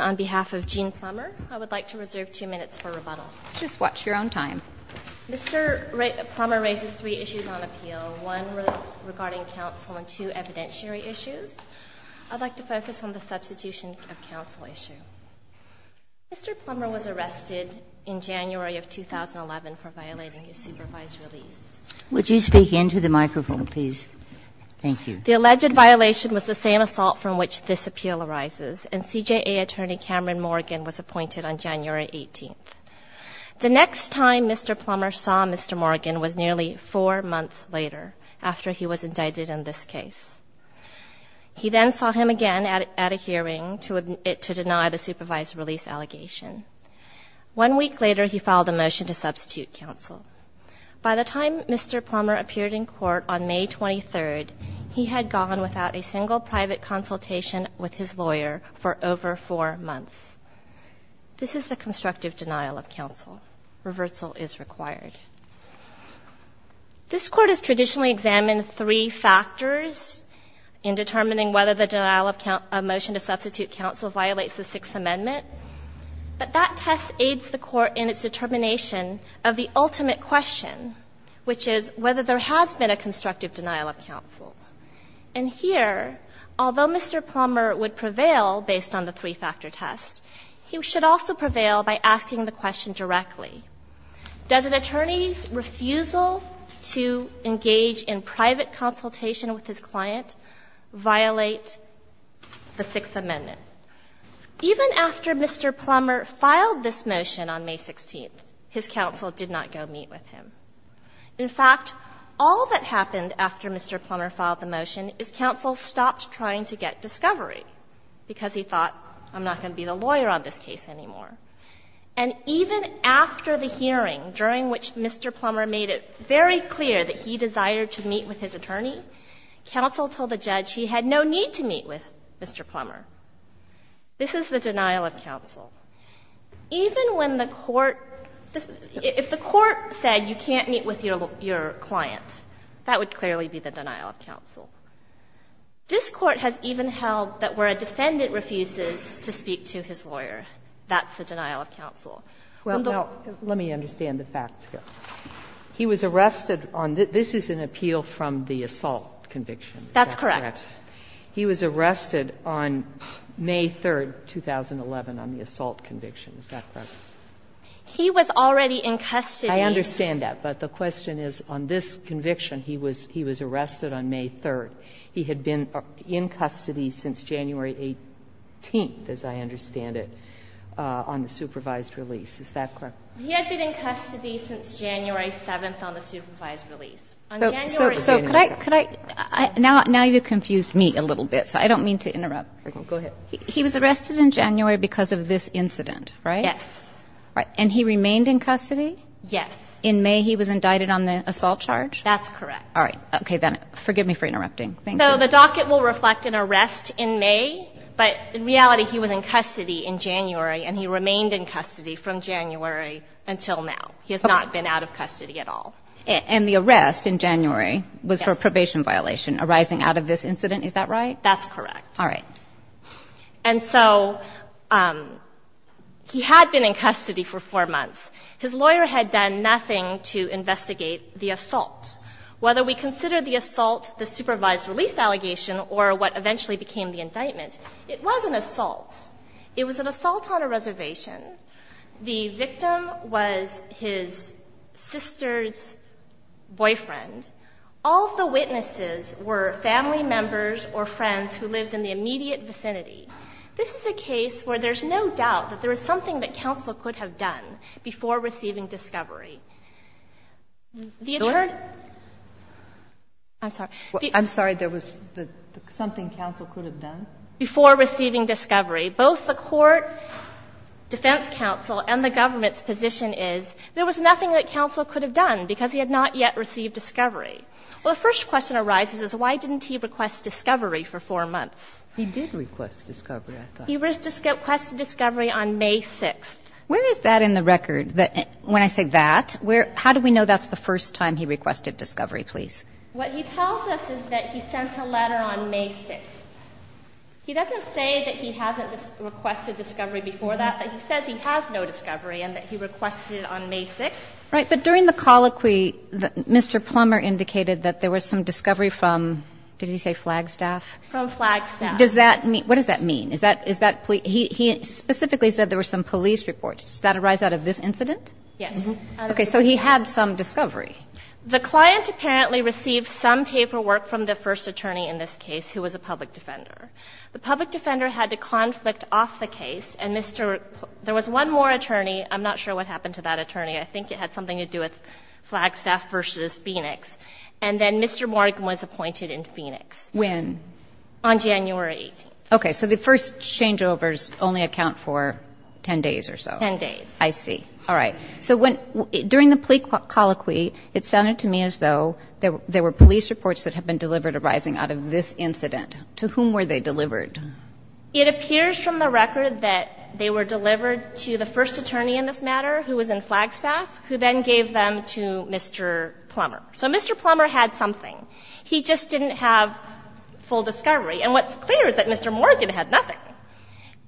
on behalf of Gene Plummer. I would like to reserve two minutes for rebuttal. Ms. Plummer raises three issues on appeal, one regarding counsel and two evidentiary issues. I'd like to focus on the substitution of counsel issue. Mr. Plummer was arrested in January of 2011 for violating his supervised release. Would you speak into the microphone, please? Thank you. The alleged violation was the same assault from which this appeal arises, and CJA attorney Cameron Morgan was appointed on January 18th. The next time Mr. Plummer saw Mr. Morgan was nearly four months later, after he was indicted in this case. He then saw him again at a hearing to deny the supervised release allegation. One week later, he filed a motion to substitute counsel. By the time Mr. Plummer appeared in court on May 23rd, he had gone without a single private consultation with his lawyer for over four months. This is the constructive denial of counsel. Reversal is required. This Court has traditionally examined three factors in determining whether the denial of motion to substitute counsel violates the Sixth Amendment, but that test aids the ultimate question, which is whether there has been a constructive denial of counsel. And here, although Mr. Plummer would prevail based on the three-factor test, he should also prevail by asking the question directly, does an attorney's refusal to engage in private consultation with his client violate the Sixth Amendment? Even after Mr. Plummer filed this motion on May 16th, his counsel did not go meet with him. In fact, all that happened after Mr. Plummer filed the motion is counsel stopped trying to get discovery, because he thought, I'm not going to be the lawyer on this case anymore. And even after the hearing, during which Mr. Plummer made it very clear that he desired to meet with his attorney, counsel told the judge he had no need to meet with Mr. Plummer. This is the denial of counsel. Even when the court – if the court said you can't meet with your client, that would clearly be the denial of counsel. This Court has even held that where a defendant refuses to speak to his lawyer, that's the denial of counsel. Well, now, let me understand the facts here. He was arrested on – this is an appeal from the assault conviction, is that correct? That's correct. He was arrested on May 3rd, 2011, on the assault conviction, is that correct? He was already in custody. I understand that. But the question is, on this conviction, he was arrested on May 3rd. He had been in custody since January 18th, as I understand it, on the supervised release. Is that correct? He had been in custody since January 7th on the supervised release. On January 18th – So could I – now you've confused me a little bit, so I don't mean to interrupt. Go ahead. He was arrested in January because of this incident, right? Yes. And he remained in custody? Yes. In May, he was indicted on the assault charge? That's correct. All right. Okay, then forgive me for interrupting. Thank you. So the docket will reflect an arrest in May, but in reality, he was in custody in January, and he remained in custody from January until now. He has not been out of custody at all. And the arrest in January was for a probation violation arising out of this incident, is that right? That's correct. All right. And so he had been in custody for four months. His lawyer had done nothing to investigate the assault. Whether we consider the assault the supervised release allegation or what eventually became the indictment, it was an assault. It was an assault on a reservation. The victim was his sister's boyfriend. All of the witnesses were family members or friends who lived in the immediate vicinity. This is a case where there's no doubt that there I'm sorry. I'm sorry. There was something counsel could have done? Before receiving discovery. Both the court, defense counsel, and the government's position is there was nothing that counsel could have done because he had not yet received discovery. Well, the first question arises is why didn't he request discovery for four months? He did request discovery, I thought. He requested discovery on May 6th. Where is that in the record? When I say that, how do we know that's the first time he requested discovery, please? What he tells us is that he sent a letter on May 6th. He doesn't say that he hasn't requested discovery before that, but he says he has no discovery and that he requested it on May 6th. Right. But during the colloquy, Mr. Plummer indicated that there was some discovery from, did he say Flagstaff? From Flagstaff. Does that mean, what does that mean? Is that, is that, he specifically said there were some police reports. Does that arise out of this incident? Yes. Okay. So he had some discovery. The client apparently received some paperwork from the first attorney in this case who was a public defender. The public defender had the conflict off the case, and Mr. Plummer, there was one more attorney. I'm not sure what happened to that attorney. I think it had something to do with Flagstaff versus Phoenix. And then Mr. Morgan was appointed in Phoenix. When? On January 18th. Okay. So the first changeovers only account for 10 days or so. Ten days. I see. All right. So when, during the plea colloquy, it sounded to me as though there were police reports that had been delivered arising out of this incident. To whom were they delivered? It appears from the record that they were delivered to the first attorney in this matter, who was in Flagstaff, who then gave them to Mr. Plummer. So Mr. Plummer had something. He just didn't have full discovery. And what's clear is that Mr. Morgan had nothing.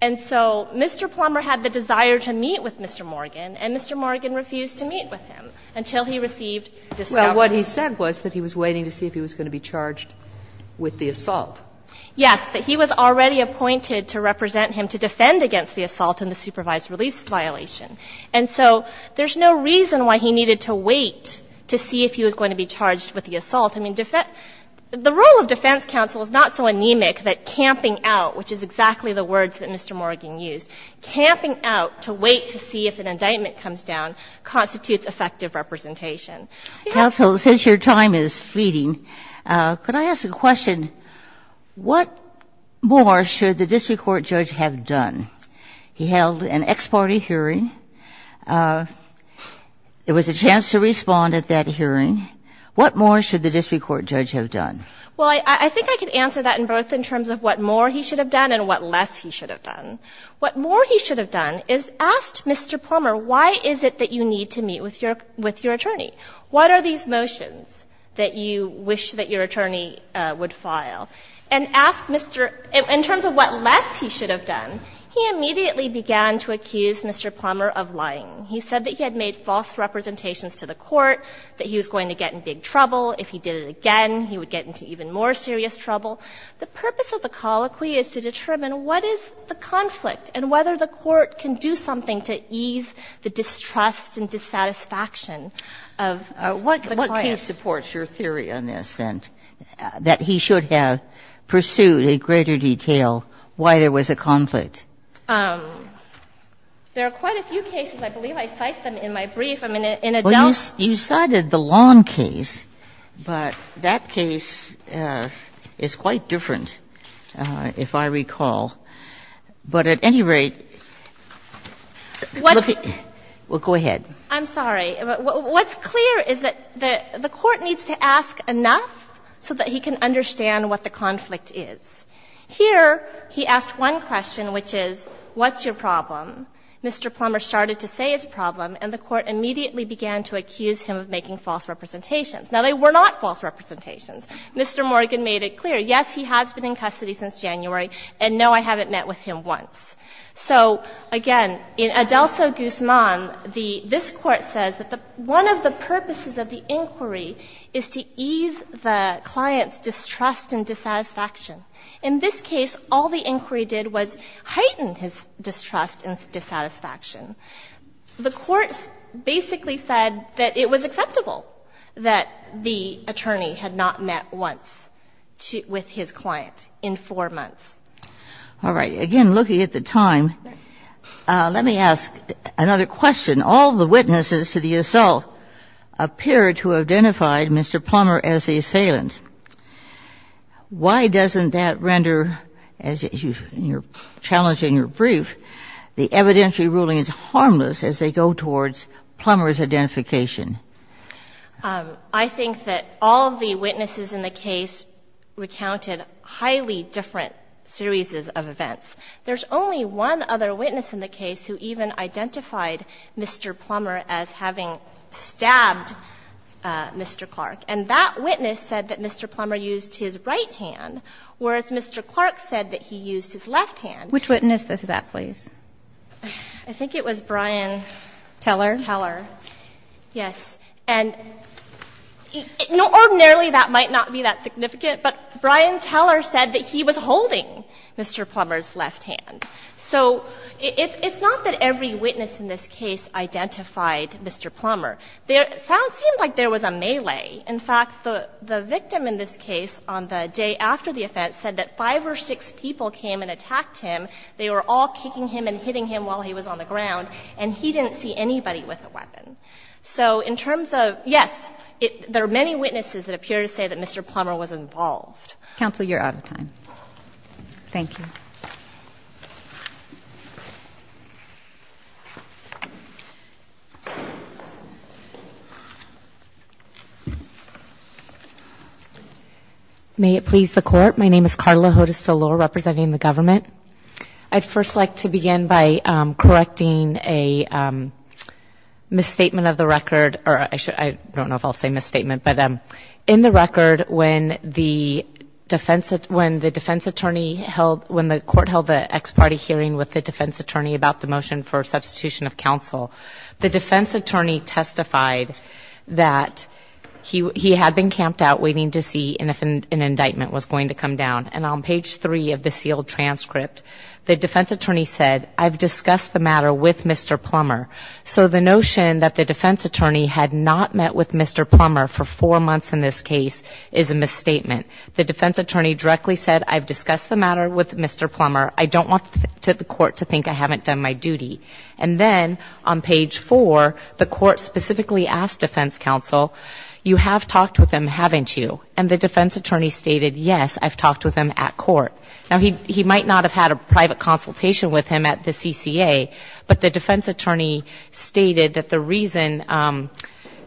And so Mr. Plummer had the desire to meet with Mr. Morgan, and Mr. Morgan refused to meet with him until he received discovery. Well, what he said was that he was waiting to see if he was going to be charged with the assault. Yes. But he was already appointed to represent him to defend against the assault and the supervised release violation. And so there's no reason why he needed to wait to see if he was going to be charged with the assault. I mean, the role of defense counsel is not so anemic that camping out, which is exactly the words that Mr. Morgan used, camping out to wait to see if an indictment comes down constitutes effective representation. Counsel, since your time is fleeting, could I ask a question? What more should the district court judge have done? He held an ex parte hearing. There was a chance to respond at that hearing. What more should the district court judge have done? Well, I think I could answer that in both in terms of what more he should have done and what less he should have done. What more he should have done is asked Mr. Plummer, why is it that you need to meet with your attorney? What are these motions that you wish that your attorney would file? And asked Mr. — in terms of what less he should have done, he immediately began to accuse Mr. Plummer of lying. He said that he had made false representations to the court, that he was going to get in big trouble. If he did it again, he would get into even more serious trouble. The purpose of the colloquy is to determine what is the conflict and whether the court can do something to ease the distrust and dissatisfaction of the client. What case supports your theory on this, then, that he should have pursued in greater detail why there was a conflict? There are quite a few cases. I believe I cited them in my brief. I'm in a doubt. Well, you cited the Long case, but that case is quite different, if I recall. But at any rate, let me — well, go ahead. I'm sorry. What's clear is that the court needs to ask enough so that he can understand what the conflict is. Here, he asked one question, which is, what's your problem? Mr. Plummer started to say his problem, and the court immediately began to accuse him of making false representations. Now, they were not false representations. Mr. Morgan made it clear, yes, he has been in custody since January, and no, I haven't met with him once. So, again, in Adelso-Guzman, the — this Court says that one of the purposes of the inquiry is to ease the client's distrust and dissatisfaction. In this case, all the inquiry did was heighten his distrust and dissatisfaction. The court basically said that it was acceptable that the attorney had not met once with his client in four months. All right. Again, looking at the time, let me ask another question. All the witnesses to the assault appeared to have identified Mr. Plummer as the assailant. Why doesn't that render, as you challenged in your brief, the evidentiary ruling as harmless as they go towards Plummer's identification? I think that all of the witnesses in the case recounted highly different series of events. There's only one other witness in the case who even identified Mr. Plummer as having stabbed Mr. Clark. And that witness said that Mr. Plummer used his right hand, whereas Mr. Clark said that he used his left hand. Which witness is that, please? I think it was Brian Teller. Teller. Yes. And ordinarily that might not be that significant, but Brian Teller said that he was holding Mr. Plummer's left hand. So it's not that every witness in this case identified Mr. Plummer. It seemed like there was a melee. In fact, the victim in this case on the day after the offense said that five or six people came and attacked him. They were all kicking him and hitting him while he was on the ground, and he didn't see anybody with a weapon. So in terms of, yes, there are many witnesses that appear to say that Mr. Plummer was involved. Counsel, you're out of time. Thank you. May it please the court? My name is Carla Hodes-Delore, representing the government. I'd first like to begin by correcting a misstatement of the record, or I don't know if I'll say misstatement, but in the record when the defense attorney held, when the court held the ex-party hearing with the defense attorney about the motion for substitution of counsel, the defense attorney testified that he had been camped out waiting to see if an indictment was going to come down. And on page three of the sealed transcript, the defense attorney said, I've discussed the matter with Mr. Plummer. So the notion that the defense attorney had not met with Mr. Plummer for four months in this case is a misstatement. The defense attorney directly said, I've discussed the matter with Mr. Plummer. I don't want the court to think I haven't done my duty. And then on page four, the court specifically asked defense counsel, you have talked with him, haven't you? And the defense attorney stated, yes, I've talked with him at court. Now, he might not have had a private consultation with him at the CCA, but the defense attorney stated that the reason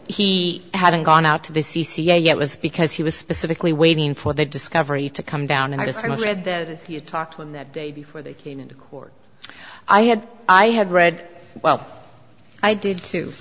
he hadn't gone out to the CCA yet was because he was specifically waiting for the discovery to come down in this motion. I read that as he had talked to him that day before they came into court. I had read – well, I did, too.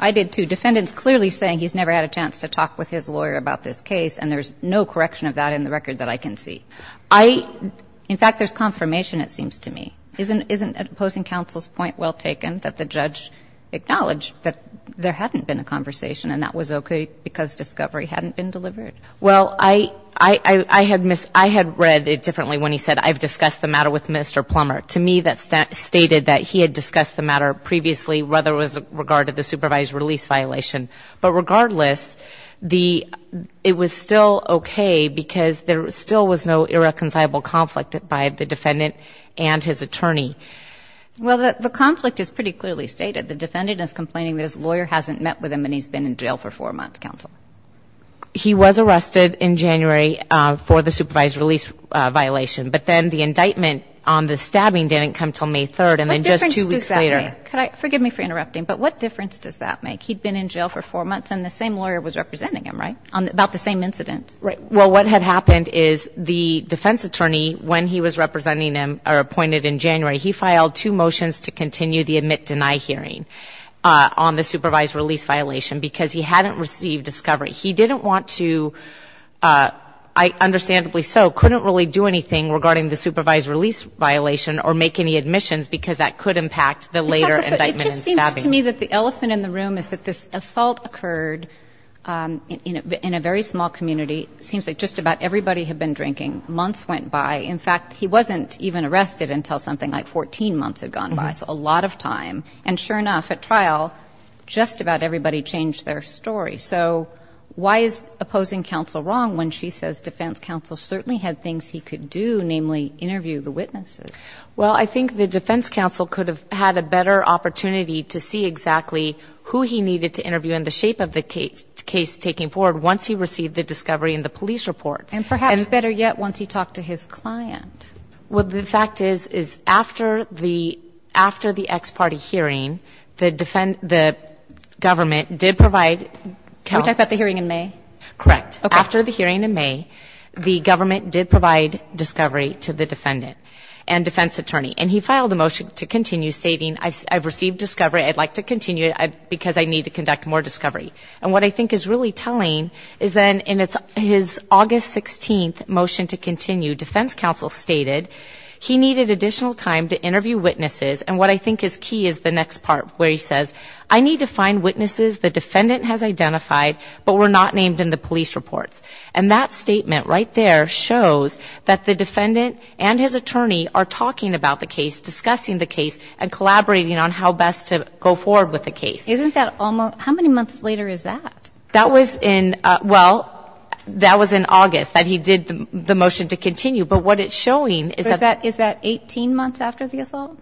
I did, too. Defendants clearly saying he's never had a chance to talk with his lawyer about this case, and there's no correction of that in the record that I can see. I – in fact, there's confirmation, it seems to me. Isn't opposing counsel's point well taken, that the judge acknowledged that there hadn't been a conversation and that was okay because discovery hadn't been delivered? Well, I had read it differently when he said, I've discussed the matter with Mr. Plummer. To me, that stated that he had discussed the matter previously, whether it was regard to the supervised release violation. But regardless, the – it was still okay because there still was no irreconcilable conflict by the defendant and his attorney. Well, the conflict is pretty clearly stated. The defendant is complaining that his lawyer hasn't met with him and he's been in jail for four months, counsel. He was arrested in January for the supervised release violation. But then the indictment on the stabbing didn't come until May 3rd and then just What difference does that make? Could I – forgive me for interrupting, but what difference does that make? He'd been in jail for four months and the same lawyer was representing him, right, on – about the same incident? Right. Well, what had happened is the defense attorney, when he was representing him or appointed in January, he filed two motions to continue the admit-deny hearing on the supervised release violation because he hadn't received discovery. He didn't want to, I understandably so, couldn't really do anything regarding the supervised release violation or make any admissions because that could impact the later indictment and stabbing. It just seems to me that the elephant in the room is that this assault occurred in a very small community. It seems like just about everybody had been drinking. Months went by. In fact, he wasn't even arrested until something like 14 months had gone by. So a lot of time. And sure enough, at trial, just about everybody changed their story. So why is opposing counsel wrong when she says defense counsel certainly had things he could do, namely interview the witnesses? Well, I think the defense counsel could have had a better opportunity to see exactly who he needed to interview and the shape of the case taking forward once he received the discovery and the police reports. And perhaps better yet, once he talked to his client. Well, the fact is, is after the, after the ex-party hearing, the defend, the government did provide. Can we talk about the hearing in May? Correct. After the hearing in May, the government did provide discovery to the defendant and defense attorney. And he filed a motion to continue stating, I've received discovery. I'd like to continue because I need to conduct more discovery. And what I think is really telling is then in his August 16th motion to continue, defense counsel stated he needed additional time to interview witnesses. And what I think is key is the next part where he says, I need to find witnesses the defendant has identified but were not named in the police reports. And that statement right there shows that the defendant and his attorney are talking about the case, discussing the case, and collaborating on how best to go forward with the case. Isn't that almost, how many months later is that? That was in, well, that was in August that he did the motion to continue. But what it's showing is that. Is that 18 months after the assault?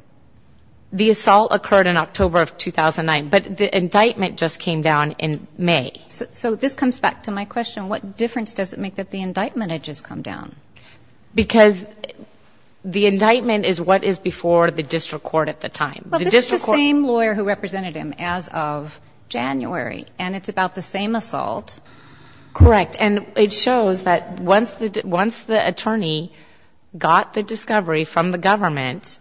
The assault occurred in October of 2009. But the indictment just came down in May. So this comes back to my question. What difference does it make that the indictment had just come down? Because the indictment is what is before the district court at the time. The district court. Well, this is the same lawyer who represented him as of January. And it's about the same assault. Correct. And it shows that once the attorney got the discovery from the government,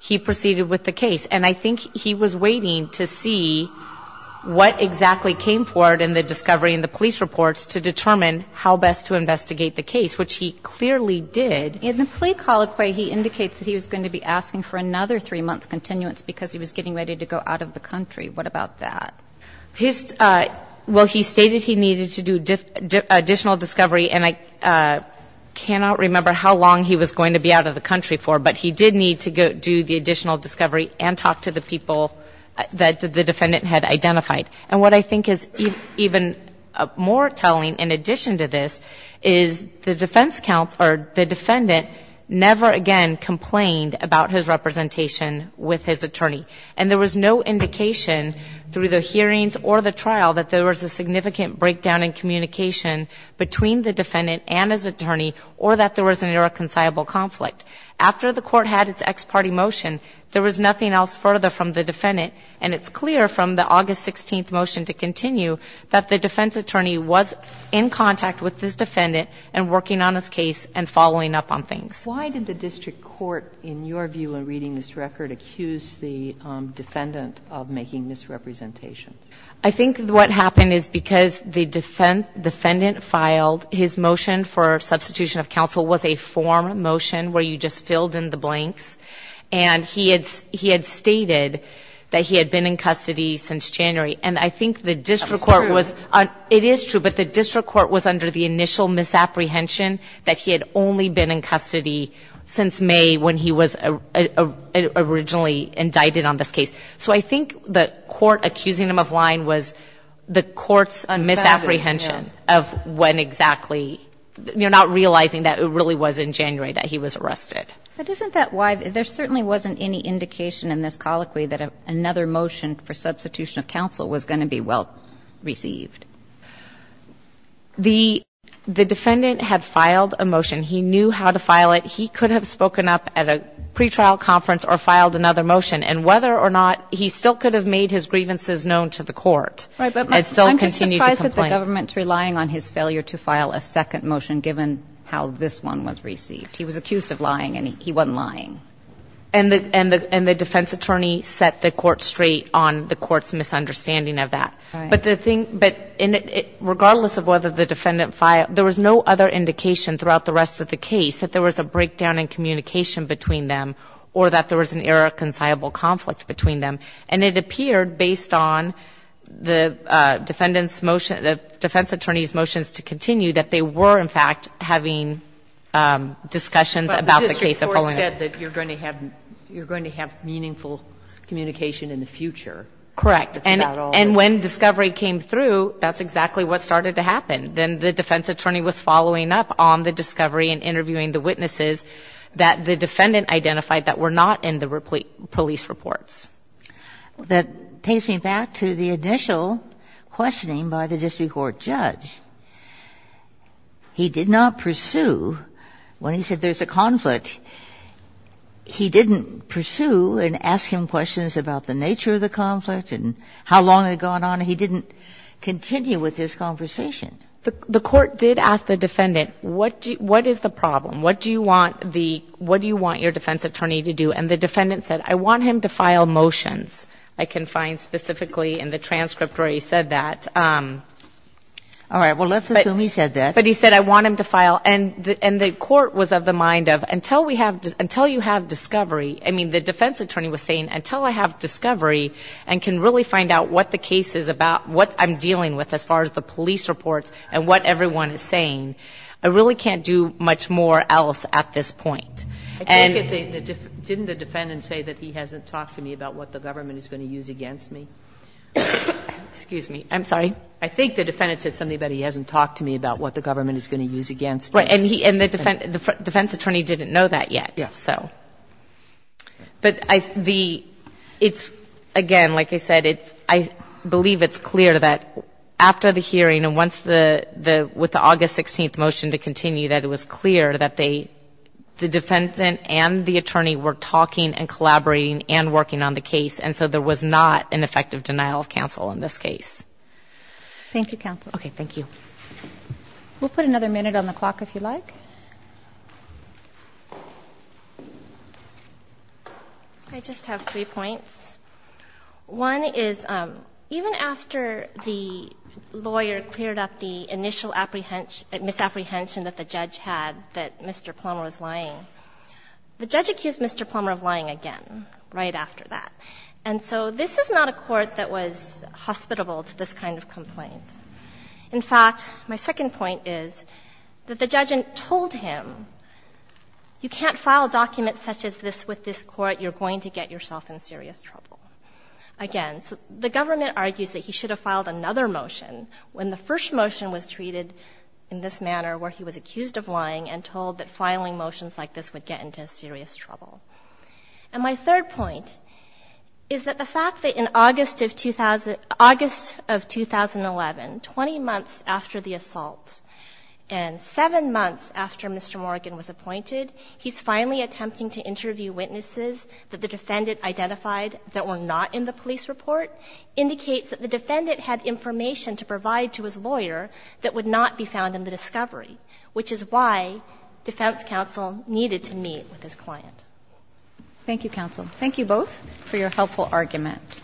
he proceeded with the case. And I think he was waiting to see what exactly came forward in the discovery in the police reports to determine how best to investigate the case, which he clearly did. In the plea colloquy, he indicates that he was going to be asking for another three-month continuance because he was getting ready to go out of the country. What about that? Well, he stated he needed to do additional discovery. And I cannot remember how long he was going to be out of the country for. But he did need to do the additional discovery and talk to the people that the defendant had identified. And what I think is even more telling in addition to this is the defense counsel or the defendant never again complained about his representation with his attorney. And there was no indication through the hearings or the trial that there was a significant breakdown in communication between the defendant and his attorney or that there was an irreconcilable conflict. After the court had its ex-party motion, there was nothing else further from the defendant. And it's clear from the August 16th motion to continue that the defense attorney was in contact with this defendant and working on his case and following up on things. Why did the district court, in your view in reading this record, accuse the defendant of making misrepresentation? I think what happened is because the defendant filed his motion for substitution of counsel was a form motion where you just filled in the blanks. And he had stated that he had been in custody since January. And I think the district court was under the initial misapprehension that he had only been in custody since May when he was originally indicted on this case. So I think the court accusing him of lying was the court's misapprehension of when exactly, not realizing that it really was in January that he was arrested. But isn't that why there certainly wasn't any indication in this colloquy that another motion for substitution of counsel was going to be well received? The defendant had filed a motion. He knew how to file it. He could have spoken up at a pretrial conference or filed another motion. And whether or not he still could have made his grievances known to the court and still continue to complain. Right. But I'm just surprised that the government's relying on his failure to file a second motion given how this one was received. He was accused of lying and he wasn't lying. And the defense attorney set the court straight on the court's misunderstanding of that. Right. But the thing, but regardless of whether the defendant filed, there was no other indication throughout the rest of the case that there was a breakdown in communication between them or that there was an irreconcilable conflict between them. And it appeared, based on the defendant's motion, the defense attorney's motions to continue, that they were, in fact, having discussions about the case of Polano. But the district court said that you're going to have meaningful communication in the future. Correct. And when discovery came through, that's exactly what started to happen. Then the defense attorney was following up on the discovery and interviewing the witnesses that the defendant identified that were not in the police reports. That takes me back to the initial questioning by the district court judge. He did not pursue, when he said there's a conflict, he didn't pursue and ask him about the conflict and how long it had gone on. He didn't continue with his conversation. The court did ask the defendant, what is the problem? What do you want the, what do you want your defense attorney to do? And the defendant said, I want him to file motions. I can find specifically in the transcript where he said that. All right. Well, let's assume he said that. But he said, I want him to file. And the court was of the mind of, until you have discovery, I mean, the defense attorney was saying, until I have discovery and can really find out what the case is about, what I'm dealing with as far as the police reports and what everyone is saying, I really can't do much more else at this point. And the defendant, didn't the defendant say that he hasn't talked to me about what the government is going to use against me? Excuse me. I'm sorry. I think the defendant said something about he hasn't talked to me about what the government is going to use against me. And the defense attorney didn't know that yet. So, but the, it's again, like I said, it's, I believe it's clear that after the hearing and once the, the, with the August 16th motion to continue, that it was clear that they, the defendant and the attorney were talking and collaborating and working on the case. And so there was not an effective denial of counsel in this case. Thank you counsel. Okay. Thank you. We'll put another minute on the clock if you like. I just have three points. One is even after the lawyer cleared up the initial apprehension, misapprehension that the judge had, that Mr. Plummer was lying, the judge accused Mr. Plummer of lying again, right after that. And so this is not a court that was hospitable to this kind of complaint. In fact, my second point is that the judge told him, you can't file documents such as this with this court. You're going to get yourself in serious trouble again. So the government argues that he should have filed another motion when the first motion was treated in this manner, where he was accused of lying and told that filing motions like this would get into serious trouble. And my third point is that the fact that in August of 2000, August of 2011, 20 months after the assault and seven months after Mr. Morgan was appointed, he's finally attempting to interview witnesses that the defendant identified that were not in the police report indicates that the defendant had information to provide to his lawyer that would not be found in the discovery, which is why defense counsel needed to meet with his client. Thank you, counsel. Thank you both for your helpful argument.